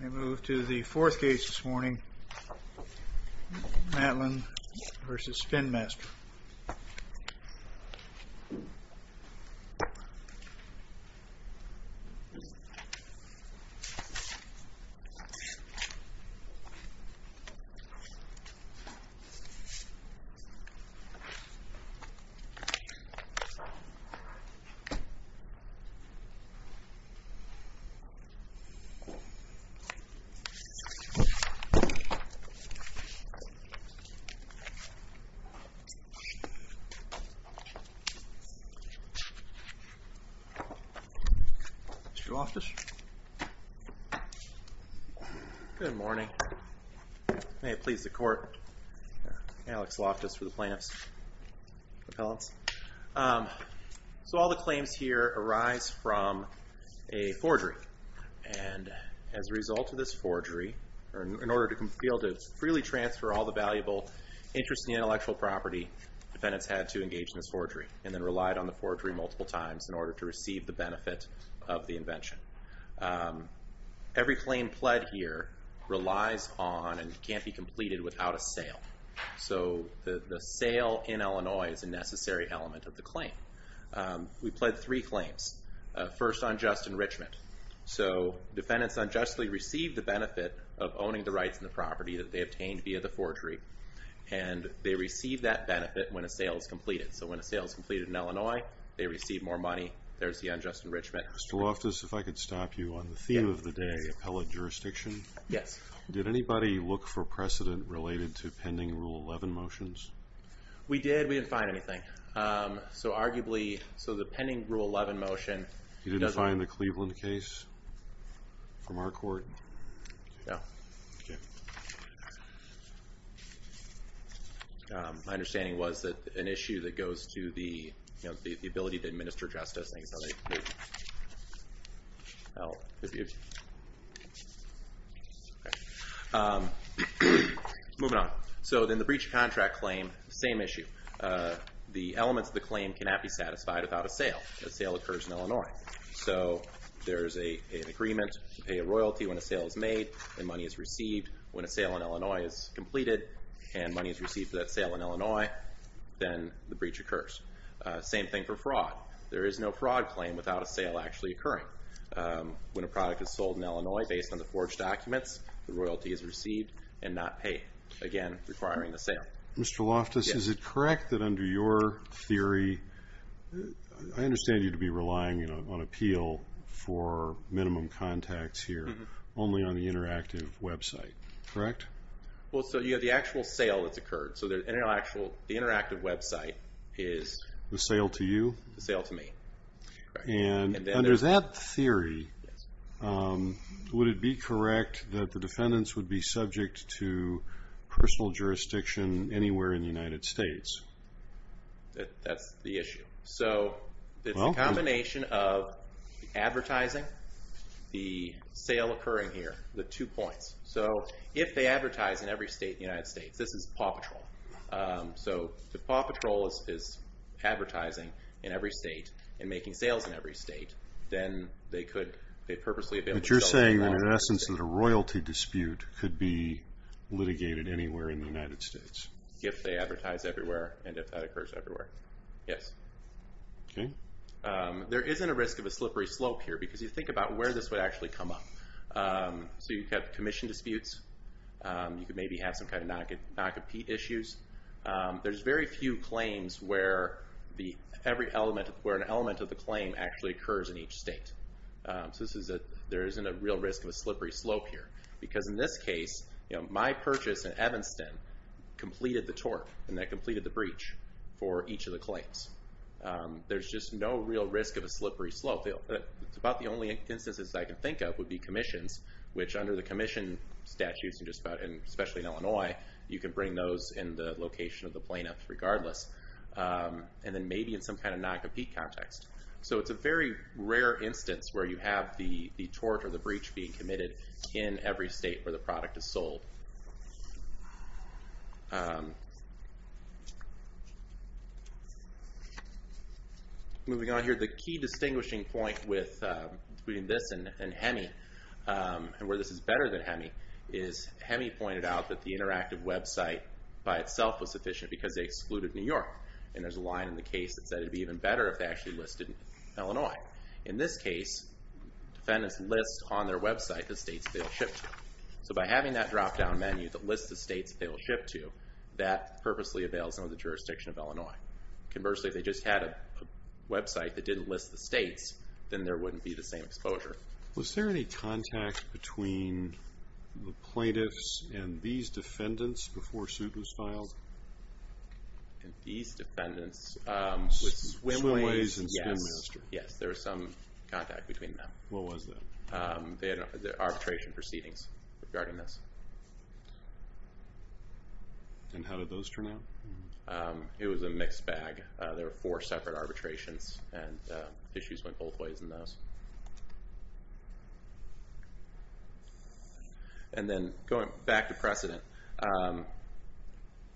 We move to the fourth case this morning, Matlin v. Spin Master. Mr. Loftus. Good morning. May it please the court. Alex Loftus for the plaintiffs. So all the claims here arise from a forgery. And as a result of this forgery, in order to be able to freely transfer all the valuable interest in intellectual property, defendants had to engage in this forgery and then relied on the forgery multiple times in order to receive the benefit of the invention. Every claim pled here relies on and can't be completed without a sale. So the sale in Illinois is a necessary element of the claim. We pled three claims. First, unjust enrichment. So defendants unjustly received the benefit of owning the rights in the property that they obtained via the forgery. And they received that benefit when a sale is completed. So when a sale is completed in Illinois, they receive more money. There's the unjust enrichment. Mr. Loftus, if I could stop you on the theme of the day, appellate jurisdiction. Yes. Did anybody look for precedent related to pending Rule 11 motions? We did. We didn't find anything. So arguably, so the pending Rule 11 motion... You didn't find the Cleveland case from our court? No. My understanding was that an issue that goes to the ability to administer justice. Moving on. So then the breach of contract claim, same issue. The elements of the claim cannot be satisfied without a sale. A sale occurs in Illinois. So there's an agreement to pay a royalty when a sale is made and money is received. When a sale in Illinois is completed and money is received for that sale in Illinois, then the breach occurs. Same thing for fraud. There is no fraud claim without a sale actually occurring. When a product is sold in Illinois based on the forged documents, the royalty is received and not paid. Again, requiring the sale. Mr. Loftus, is it correct that under your theory, I understand you to be relying on appeal for minimum contacts here, only on the interactive website, correct? Well, so you have the actual sale that's occurred. So the interactive website is... The sale to you? The sale to me. And under that theory, would it be correct that the defendants would be subject to personal jurisdiction anywhere in the United States? That's the issue. So it's a combination of advertising, the sale occurring here, the two points. So if they advertise in every state of the United States, this is PAW Patrol. So if PAW Patrol is advertising in every state and making sales in every state, then they could, they purposely have been... But you're saying that in essence, that a royalty dispute could be litigated anywhere in the United States. If they advertise everywhere and if that occurs everywhere, yes. Okay. There isn't a risk of a slippery slope here because you think about where this would actually come up. So you've got commission disputes, you could maybe have some kind of non-compete issues. There's very few claims where an element of the claim actually occurs in each state. So there isn't a real risk of a slippery slope here. Because in this case, my purchase in Evanston completed the tort and that completed the breach for each of the claims. There's just no real risk of a slippery slope. It's about the only instances I can think of would be commissions, which under the commission statutes, and especially in Illinois, you can bring those in the location of the plaintiff regardless. And then maybe in some kind of non-compete context. So it's a very rare instance where you have the tort or the breach being committed in every state where the product is sold. Moving on here, the key distinguishing point between this and HEMI, and where this is better than HEMI, is HEMI pointed out that the interactive website by itself was sufficient because they excluded New York. And there's a line in the case that said it'd be even better if they actually listed Illinois. In this case, defendants list on their website the states they'll ship to. So by having that drop-down menu that lists the states they'll ship to, that purposely avails them of the jurisdiction of Illinois. Conversely, if they just had a website that didn't list the states, then there wouldn't be the same exposure. Was there any contact between the plaintiffs and these defendants before suit was filed? And these defendants, with swimways, yes, there was some contact between them. What was that? They had arbitration proceedings regarding this. And how did those turn out? It was a mixed bag. There were four separate arbitrations, and issues went both ways in those. And then going back to precedent,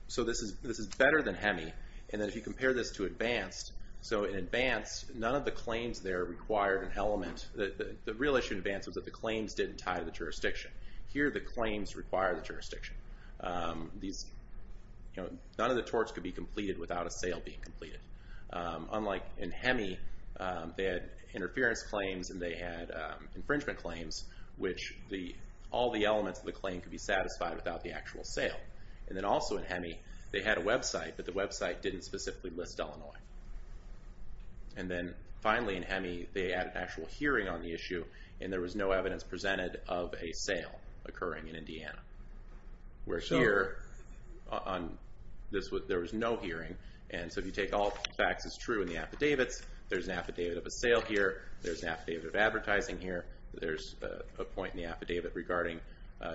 so this is better than HEMI, and then if you compare this to advanced, so in advanced, none of the claims there required an element, the real issue in advanced was that the claims didn't tie to the jurisdiction. Here, the claims require the jurisdiction. These, you know, none of the torts could be completed without a sale being completed. Unlike in HEMI, they had interference claims, but they didn't tie to the jurisdiction. They had infringement claims, which all the elements of the claim could be satisfied without the actual sale. And then also in HEMI, they had a website, but the website didn't specifically list Illinois. And then finally in HEMI, they added an actual hearing on the issue, and there was no evidence presented of a sale occurring in Indiana. Whereas here, there was no hearing, and so if you take all facts as true in the affidavits, there's an affidavit of a sale here, there's an affidavit of advertising here, there's a point in the affidavit regarding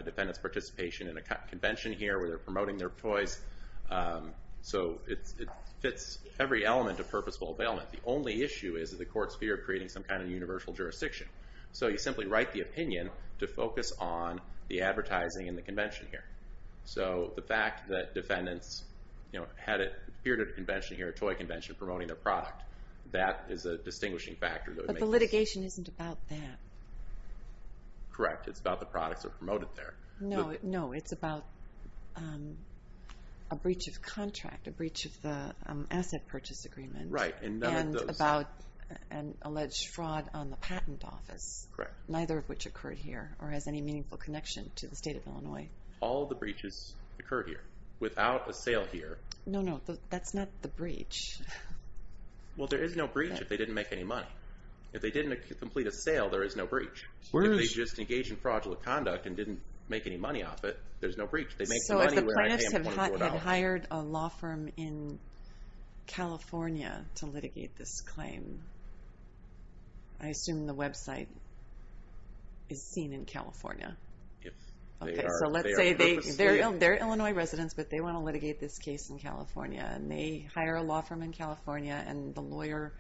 defendant's participation in a convention here where they're promoting their toys. So it fits every element of purposeful availment. The only issue is that the court's fear of creating some kind of universal jurisdiction. So you simply write the opinion to focus on the advertising and the convention here. So the fact that defendants, you know, had a period of convention here, a toy convention, promoting their product, that is a distinguishing factor. But the litigation isn't about that. Correct, it's about the products that are promoted there. No, no, it's about a breach of contract, a breach of the asset purchase agreement. Right, and none of those. And about an alleged fraud on the patent office. Correct. Neither of which occurred here, or has any meaningful connection to the state of Illinois. All the breaches occurred here. Without a sale here. No, no, that's not the breach. Well, there is no breach if they didn't make any money. If they didn't complete a sale, there is no breach. Where is- If they just engaged in fraudulent conduct and didn't make any money off it, there's no breach. So if the plaintiffs had hired a law firm in California to litigate this claim, I assume the website is seen in California. If they are- Okay, so let's say they're Illinois residents, but they want to litigate this case in California, and they hire a law firm in California, and the lawyer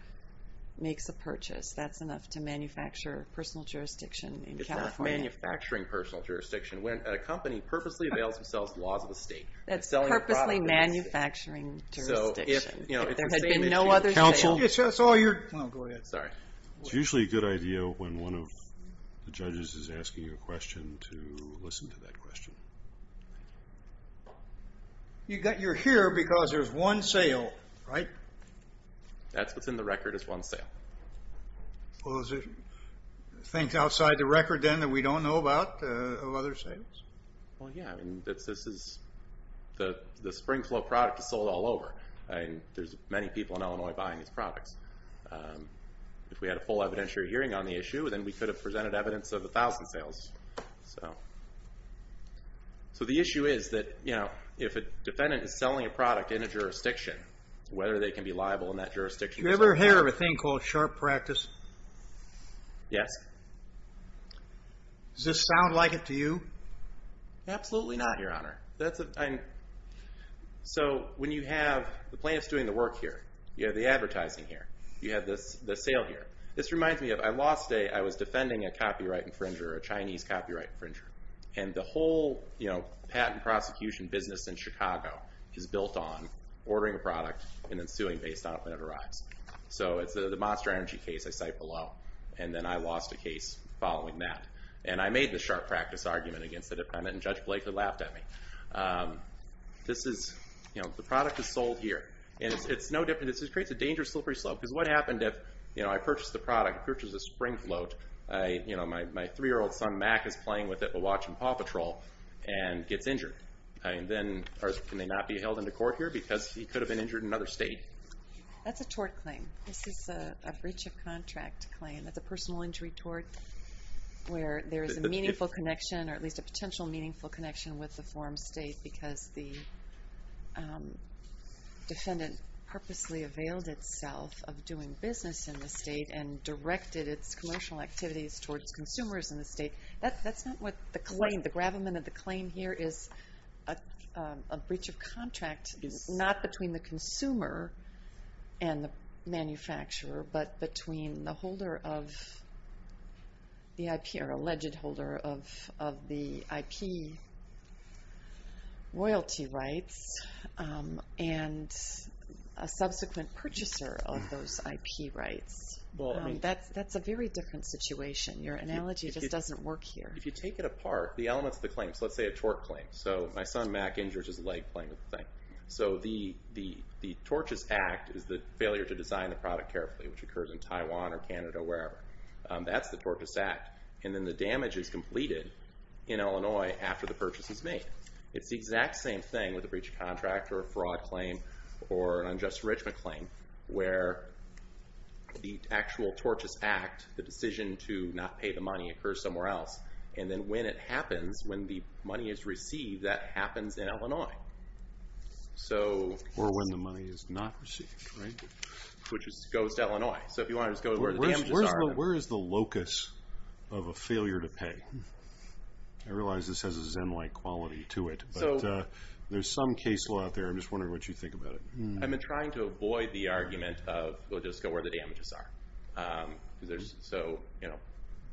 makes a purchase. That's enough to manufacture personal jurisdiction in California. It's not manufacturing personal jurisdiction. When a company purposely avails themselves laws of the state. That's purposely manufacturing jurisdiction. If there had been no other sale- Counsel? It's all your- No, go ahead. Sorry. It's usually a good idea when one of the judges is asking a question to listen to that question. You're here because there's one sale, right? That's what's in the record is one sale. Well, is it things outside the record, then, that we don't know about of other sales? Well, yeah. I mean, this is- The Springflow product is sold all over. I mean, there's many people in Illinois buying these products. If we had a full evidentiary hearing on the issue, then we could have presented evidence of 1,000 sales. So the issue is that if a defendant is selling a product in a jurisdiction, whether they can be liable in that jurisdiction- You ever hear of a thing called sharp practice? Yes. Does this sound like it to you? Absolutely not, Your Honor. So when you have the plaintiff's doing the work here, you have the advertising here, you have the sale here. This reminds me of, I lost a- And the whole patent prosecution business in Chicago is built on ordering a product and then suing based on when it arrives. So it's the Monster Energy case I cite below. And then I lost a case following that. And I made the sharp practice argument against the defendant, and Judge Blakely laughed at me. This is- The product is sold here. And it's no different. It creates a dangerous slippery slope. Because what happened if I purchased the product, which is a spring float, my three-year-old son Mac is playing with it while watching Paw Patrol and gets injured. And then can they not be held into court here? Because he could have been injured in another state. That's a tort claim. This is a breach of contract claim. That's a personal injury tort where there is a meaningful connection, or at least a potential meaningful connection, with the form's state. Because the defendant purposely availed itself of doing business in the state and directed its commercial activities towards consumers in the state. That's not what the claim- The gravamen of the claim here is a breach of contract, not between the consumer and the manufacturer, but between the holder of the IP, or alleged holder of the IP royalty rights, and a subsequent purchaser of those IP rights. That's a very different situation. Your analogy just doesn't work here. If you take it apart, the elements of the claims, let's say a tort claim. So my son Mac injures his leg playing with the thing. So the tortious act is the failure to design the product carefully, which occurs in Taiwan or Canada or wherever. That's the tortious act. And then the damage is completed in Illinois after the purchase is made. It's the exact same thing with a breach of contract or a fraud claim or an unjust enrichment claim where the actual tortious act, the decision to not pay the money occurs somewhere else. And then when it happens, when the money is received, that happens in Illinois. So- Or when the money is not received, right? Which goes to Illinois. So if you want to just go to where the damages are- Where is the locus of a failure to pay? I realize this has a Zen-like quality to it, but there's some case law out there. I'm just wondering what you think about it. I've been trying to avoid the argument of, well, just go where the damages are. So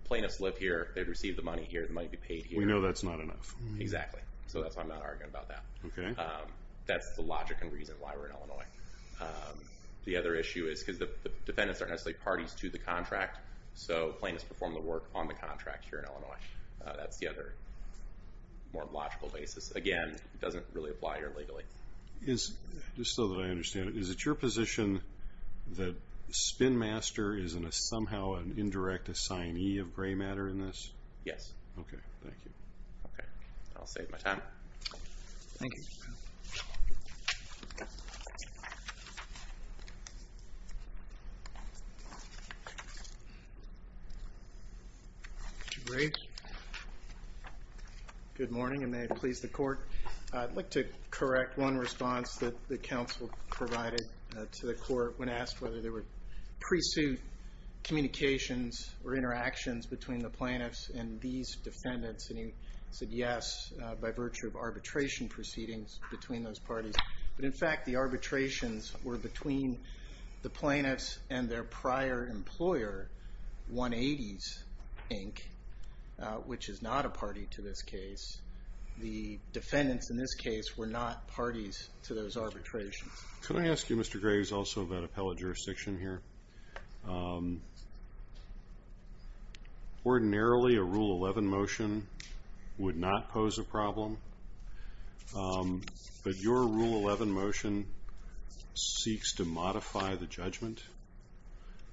plaintiffs live here. They've received the money here. The money be paid here. We know that's not enough. Exactly. So that's why I'm not arguing about that. Okay. That's the logic and reason why we're in Illinois. The other issue is because the defendants aren't necessarily parties to the contract. So plaintiffs perform the work on the contract here in Illinois. That's the other more logical basis. Again, it doesn't really apply here legally. Is, just so that I understand it, is it your position that Spinmaster is somehow an indirect assignee of gray matter in this? Yes. Okay, thank you. Okay. I'll save my time. Thank you. Good morning, and may it please the court. I'd like to correct one response that the counsel provided to the court when asked whether there were pre-suit communications or interactions between the plaintiffs and these defendants. And he said yes by virtue of arbitration proceedings between those parties. But in fact, the arbitrations were between the plaintiffs and their prior employer, 180s Inc., which is not a party to this case. The defendants in this case were not parties to those arbitrations. Could I ask you, Mr. Graves, also about appellate jurisdiction here? Ordinarily, a Rule 11 motion would not pose a problem. But your Rule 11 motion seeks to modify the judgment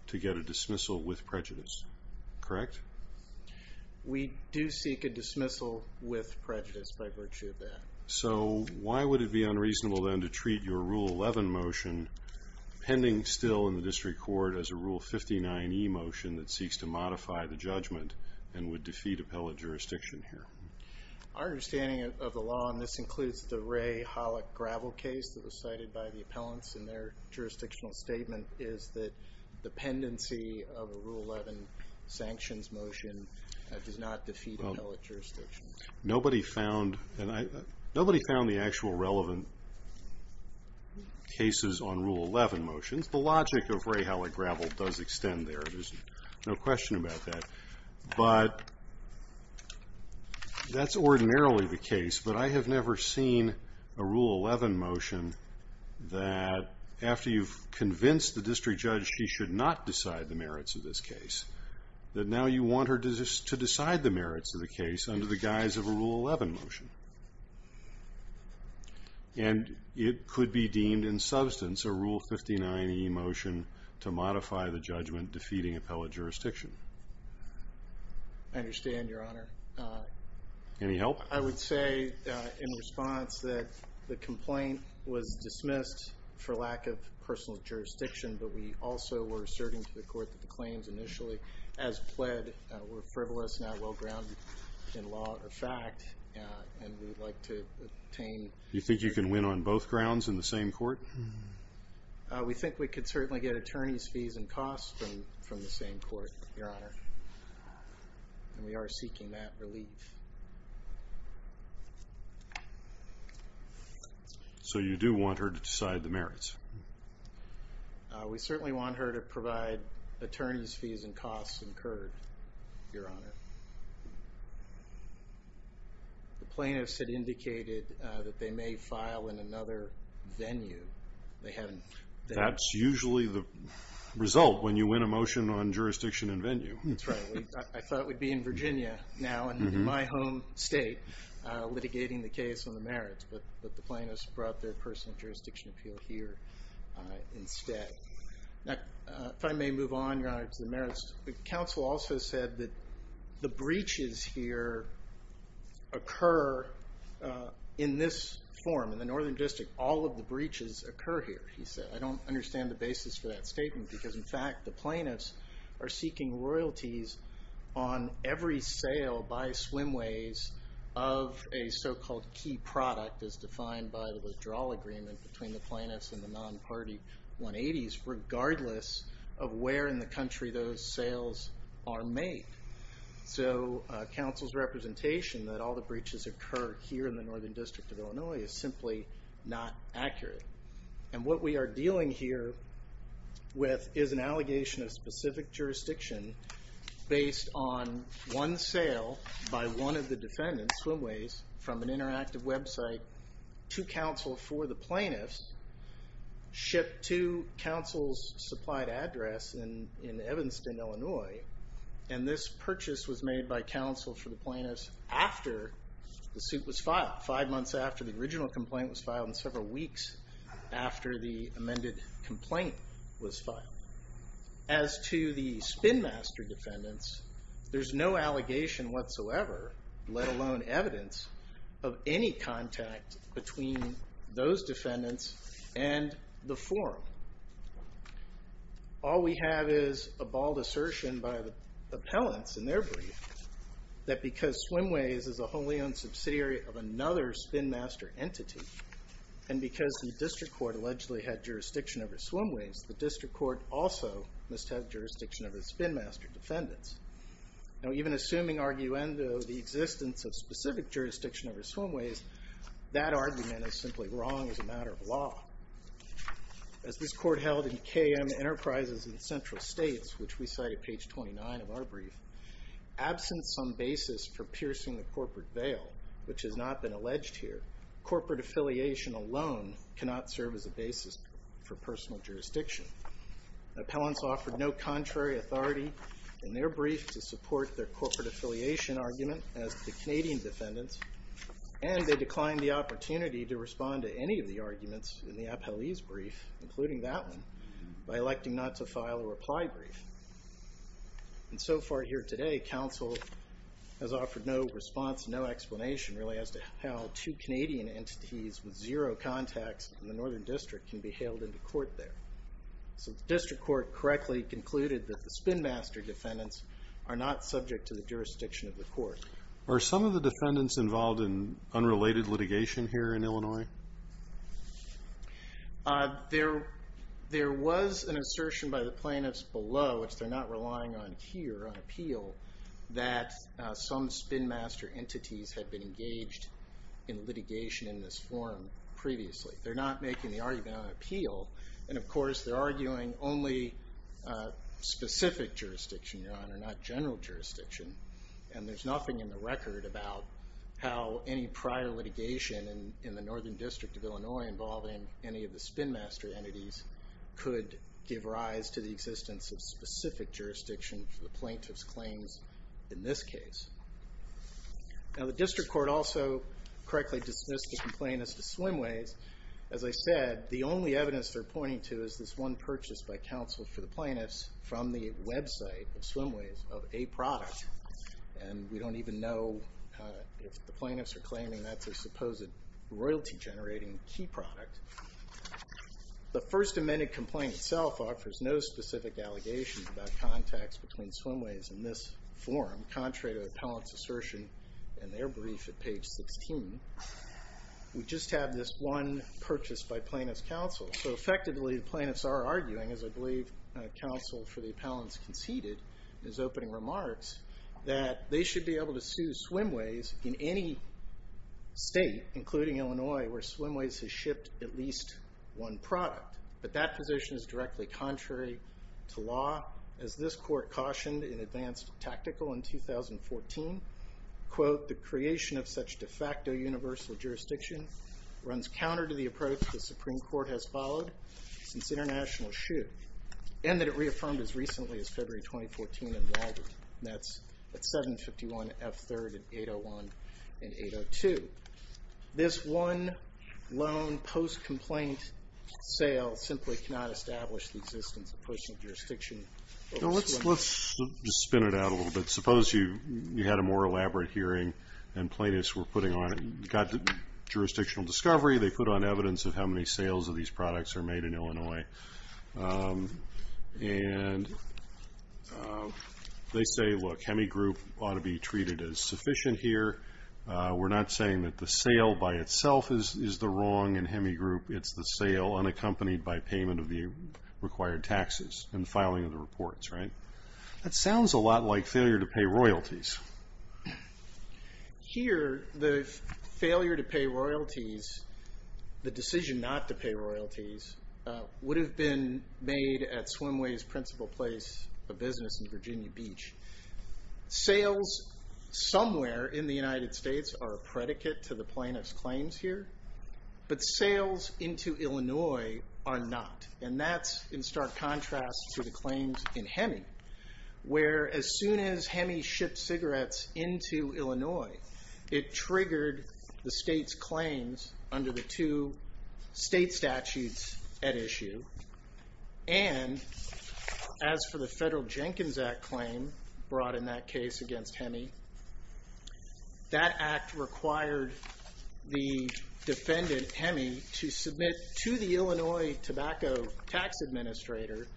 to get a dismissal with prejudice, correct? We do seek a dismissal with prejudice by virtue of that. So why would it be unreasonable, then, to treat your Rule 11 motion pending still in the district court as a Rule 59e motion that seeks to modify the judgment and would defeat appellate jurisdiction here? Our understanding of the law, and this includes the Ray Hollick gravel case that was cited by the appellants in their jurisdictional statement, is that the pendency of a Rule 11 sanctions motion does not defeat appellate jurisdiction. Nobody found the actual relevant cases on Rule 11 motions. The logic of Ray Hollick gravel does extend there. There's no question about that. But that's ordinarily the case. But I have never seen a Rule 11 motion that, after you've convinced the district judge she should not decide the merits of this case, that now you want her to decide the merits of the case under the guise of a Rule 11 motion. And it could be deemed in substance a Rule 59e motion to modify the judgment defeating appellate jurisdiction. I understand, Your Honor. Any help? I would say, in response, that the complaint was dismissed for lack of personal jurisdiction. But we also were asserting to the court that the claims initially, as pled, were frivolous, not well-grounded in law or fact. And we'd like to obtain... You think you can win on both grounds in the same court? We think we could certainly get attorney's fees and costs from the same court, Your Honor. And we are seeking that relief. So you do want her to decide the merits? We certainly want her to provide attorney's fees and costs incurred, Your Honor. The plaintiffs had indicated that they may file in another venue. That's usually the result when you win a motion on jurisdiction and venue. That's right. I thought we'd be in Virginia now, in my home state. Litigating the case on the merits. But the plaintiffs brought their personal jurisdiction appeal here instead. Now, if I may move on, Your Honor, to the merits. Counsel also said that the breaches here occur in this form. In the Northern District, all of the breaches occur here, he said. I don't understand the basis for that statement. Because, in fact, the plaintiffs are seeking royalties on every sale by swimways of a so-called key product as defined by the withdrawal agreement between the plaintiffs and the non-party 180s, regardless of where in the country those sales are made. So counsel's representation that all the breaches occur here in the Northern District of Illinois is simply not accurate. And what we are dealing here with is an allegation of specific jurisdiction based on one sale by one of the defendants, swimways, from an interactive website to counsel for the plaintiffs, shipped to counsel's supplied address in Evanston, Illinois. And this purchase was made by counsel for the plaintiffs after the suit was filed. Five months after the original complaint was filed and several weeks after the amended complaint was filed. As to the spinmaster defendants, there's no allegation whatsoever, let alone evidence, of any contact between those defendants and the forum. All we have is a bald assertion by the appellants in their brief that because swimways is a wholly owned subsidiary of another spinmaster entity, and because the district court allegedly had jurisdiction over swimways, the district court also must have jurisdiction over the spinmaster defendants. Now even assuming, arguendo, the existence of specific jurisdiction over swimways, that argument is simply wrong as a matter of law. As this court held in KM Enterprises in Central States, which we cite at page 29 of our brief, absent some basis for piercing the corporate veil, which has not been alleged here, corporate affiliation alone cannot serve as a basis for personal jurisdiction. Appellants offered no contrary authority in their brief to support their corporate affiliation argument as to the Canadian defendants, and they declined the opportunity to respond to any of the arguments in the appellee's brief, including that one, by electing not to file a reply brief. And so far here today, counsel has offered no response, no explanation, really, as to how two Canadian entities with zero contacts in the Northern District can be hailed into court there. So the district court correctly concluded that the spinmaster defendants are not subject to the jurisdiction of the court. Are some of the defendants involved in unrelated litigation here in Illinois? There was an assertion by the plaintiffs below, which they're not relying on here on appeal, that some spinmaster entities had been engaged in litigation in this form previously. They're not making the argument on appeal. And of course, they're arguing only specific jurisdiction, Your Honor, not general jurisdiction. And there's nothing in the record about how any prior litigation in the Northern District of Illinois involving any of the spinmaster entities could give rise to the existence of specific jurisdiction for the plaintiff's claims in this case. Now, the district court also correctly dismissed the complaint as to Swimways. As I said, the only evidence they're pointing to is this one purchase by counsel for the plaintiffs from the website of Swimways of a product. And we don't even know if the plaintiffs are claiming that's a supposed royalty-generating key product. The first amended complaint itself offers no specific allegations about contacts between Swimways and this forum, contrary to the appellant's assertion in their brief at page 16. We just have this one purchase by plaintiff's counsel. So effectively, the plaintiffs are arguing, as I believe counsel for the appellants conceded in his opening remarks, that they should be able to sue Swimways in any state, including Illinois, where Swimways has shipped at least one product. But that position is directly contrary to law, as this court cautioned in Advanced Tactical in 2014. Quote, the creation of such de facto universal jurisdiction runs counter to the approach the Supreme Court has followed since international shoe, and that it reaffirmed as recently as February 2014 in Walden. That's at 751 F3rd and 801 and 802. This one loan post-complaint sale simply cannot establish the existence of personal jurisdiction. So let's just spin it out a little bit. Suppose you had a more elaborate hearing and plaintiffs were putting on, got jurisdictional discovery. They put on evidence of how many sales of these products are made in Illinois. And they say, look, Hemigroup ought to be treated as sufficient here. We're not saying that the sale by itself is the wrong in Hemigroup. It's the sale unaccompanied by payment of the required taxes and filing of the reports, right? That sounds a lot like failure to pay royalties. Here, the failure to pay royalties, the decision not to pay royalties, would have been made at Swimwey's principal place of business in Virginia Beach. Sales somewhere in the United States are a predicate to the plaintiff's claims here, but sales into Illinois are not. And that's in stark contrast to the claims in Hemi, where as soon as Hemi shipped cigarettes into Illinois, it triggered the state's claims under the two state statutes at issue. And as for the Federal Jenkins Act claim brought in that case against Hemi, that act required the defendant, Hemi, to submit to the Illinois Tobacco Tax Administrator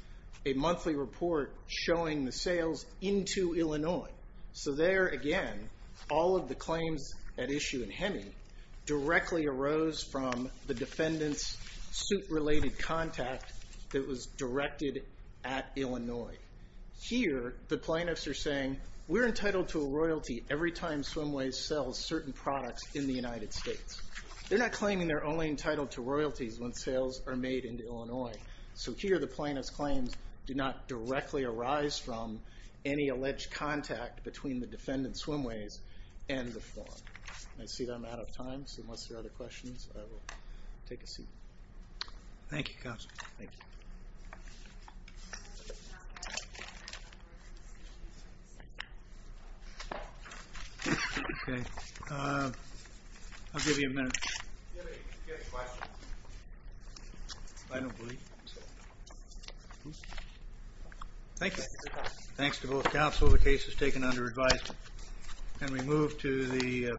a monthly report showing the sales into Illinois. So there, again, all of the claims at issue in Hemi directly arose from the defendant's suit-related contact that was directed at Illinois. Here, the plaintiffs are saying, we're entitled to a royalty every time Swimwey's sells certain products in the United States. They're not claiming they're only entitled to royalties when sales are made into Illinois. So here, the plaintiff's claims do not directly arise from any alleged contact between the defendant, Swimwey's, and the farm. I see that I'm out of time, so unless there are other questions, I will take a seat. Thank you, counsel. Thank you. Okay, I'll give you a minute. I don't believe... Thank you. Thanks to both counsel. The case is taken under advisement, and we move to the...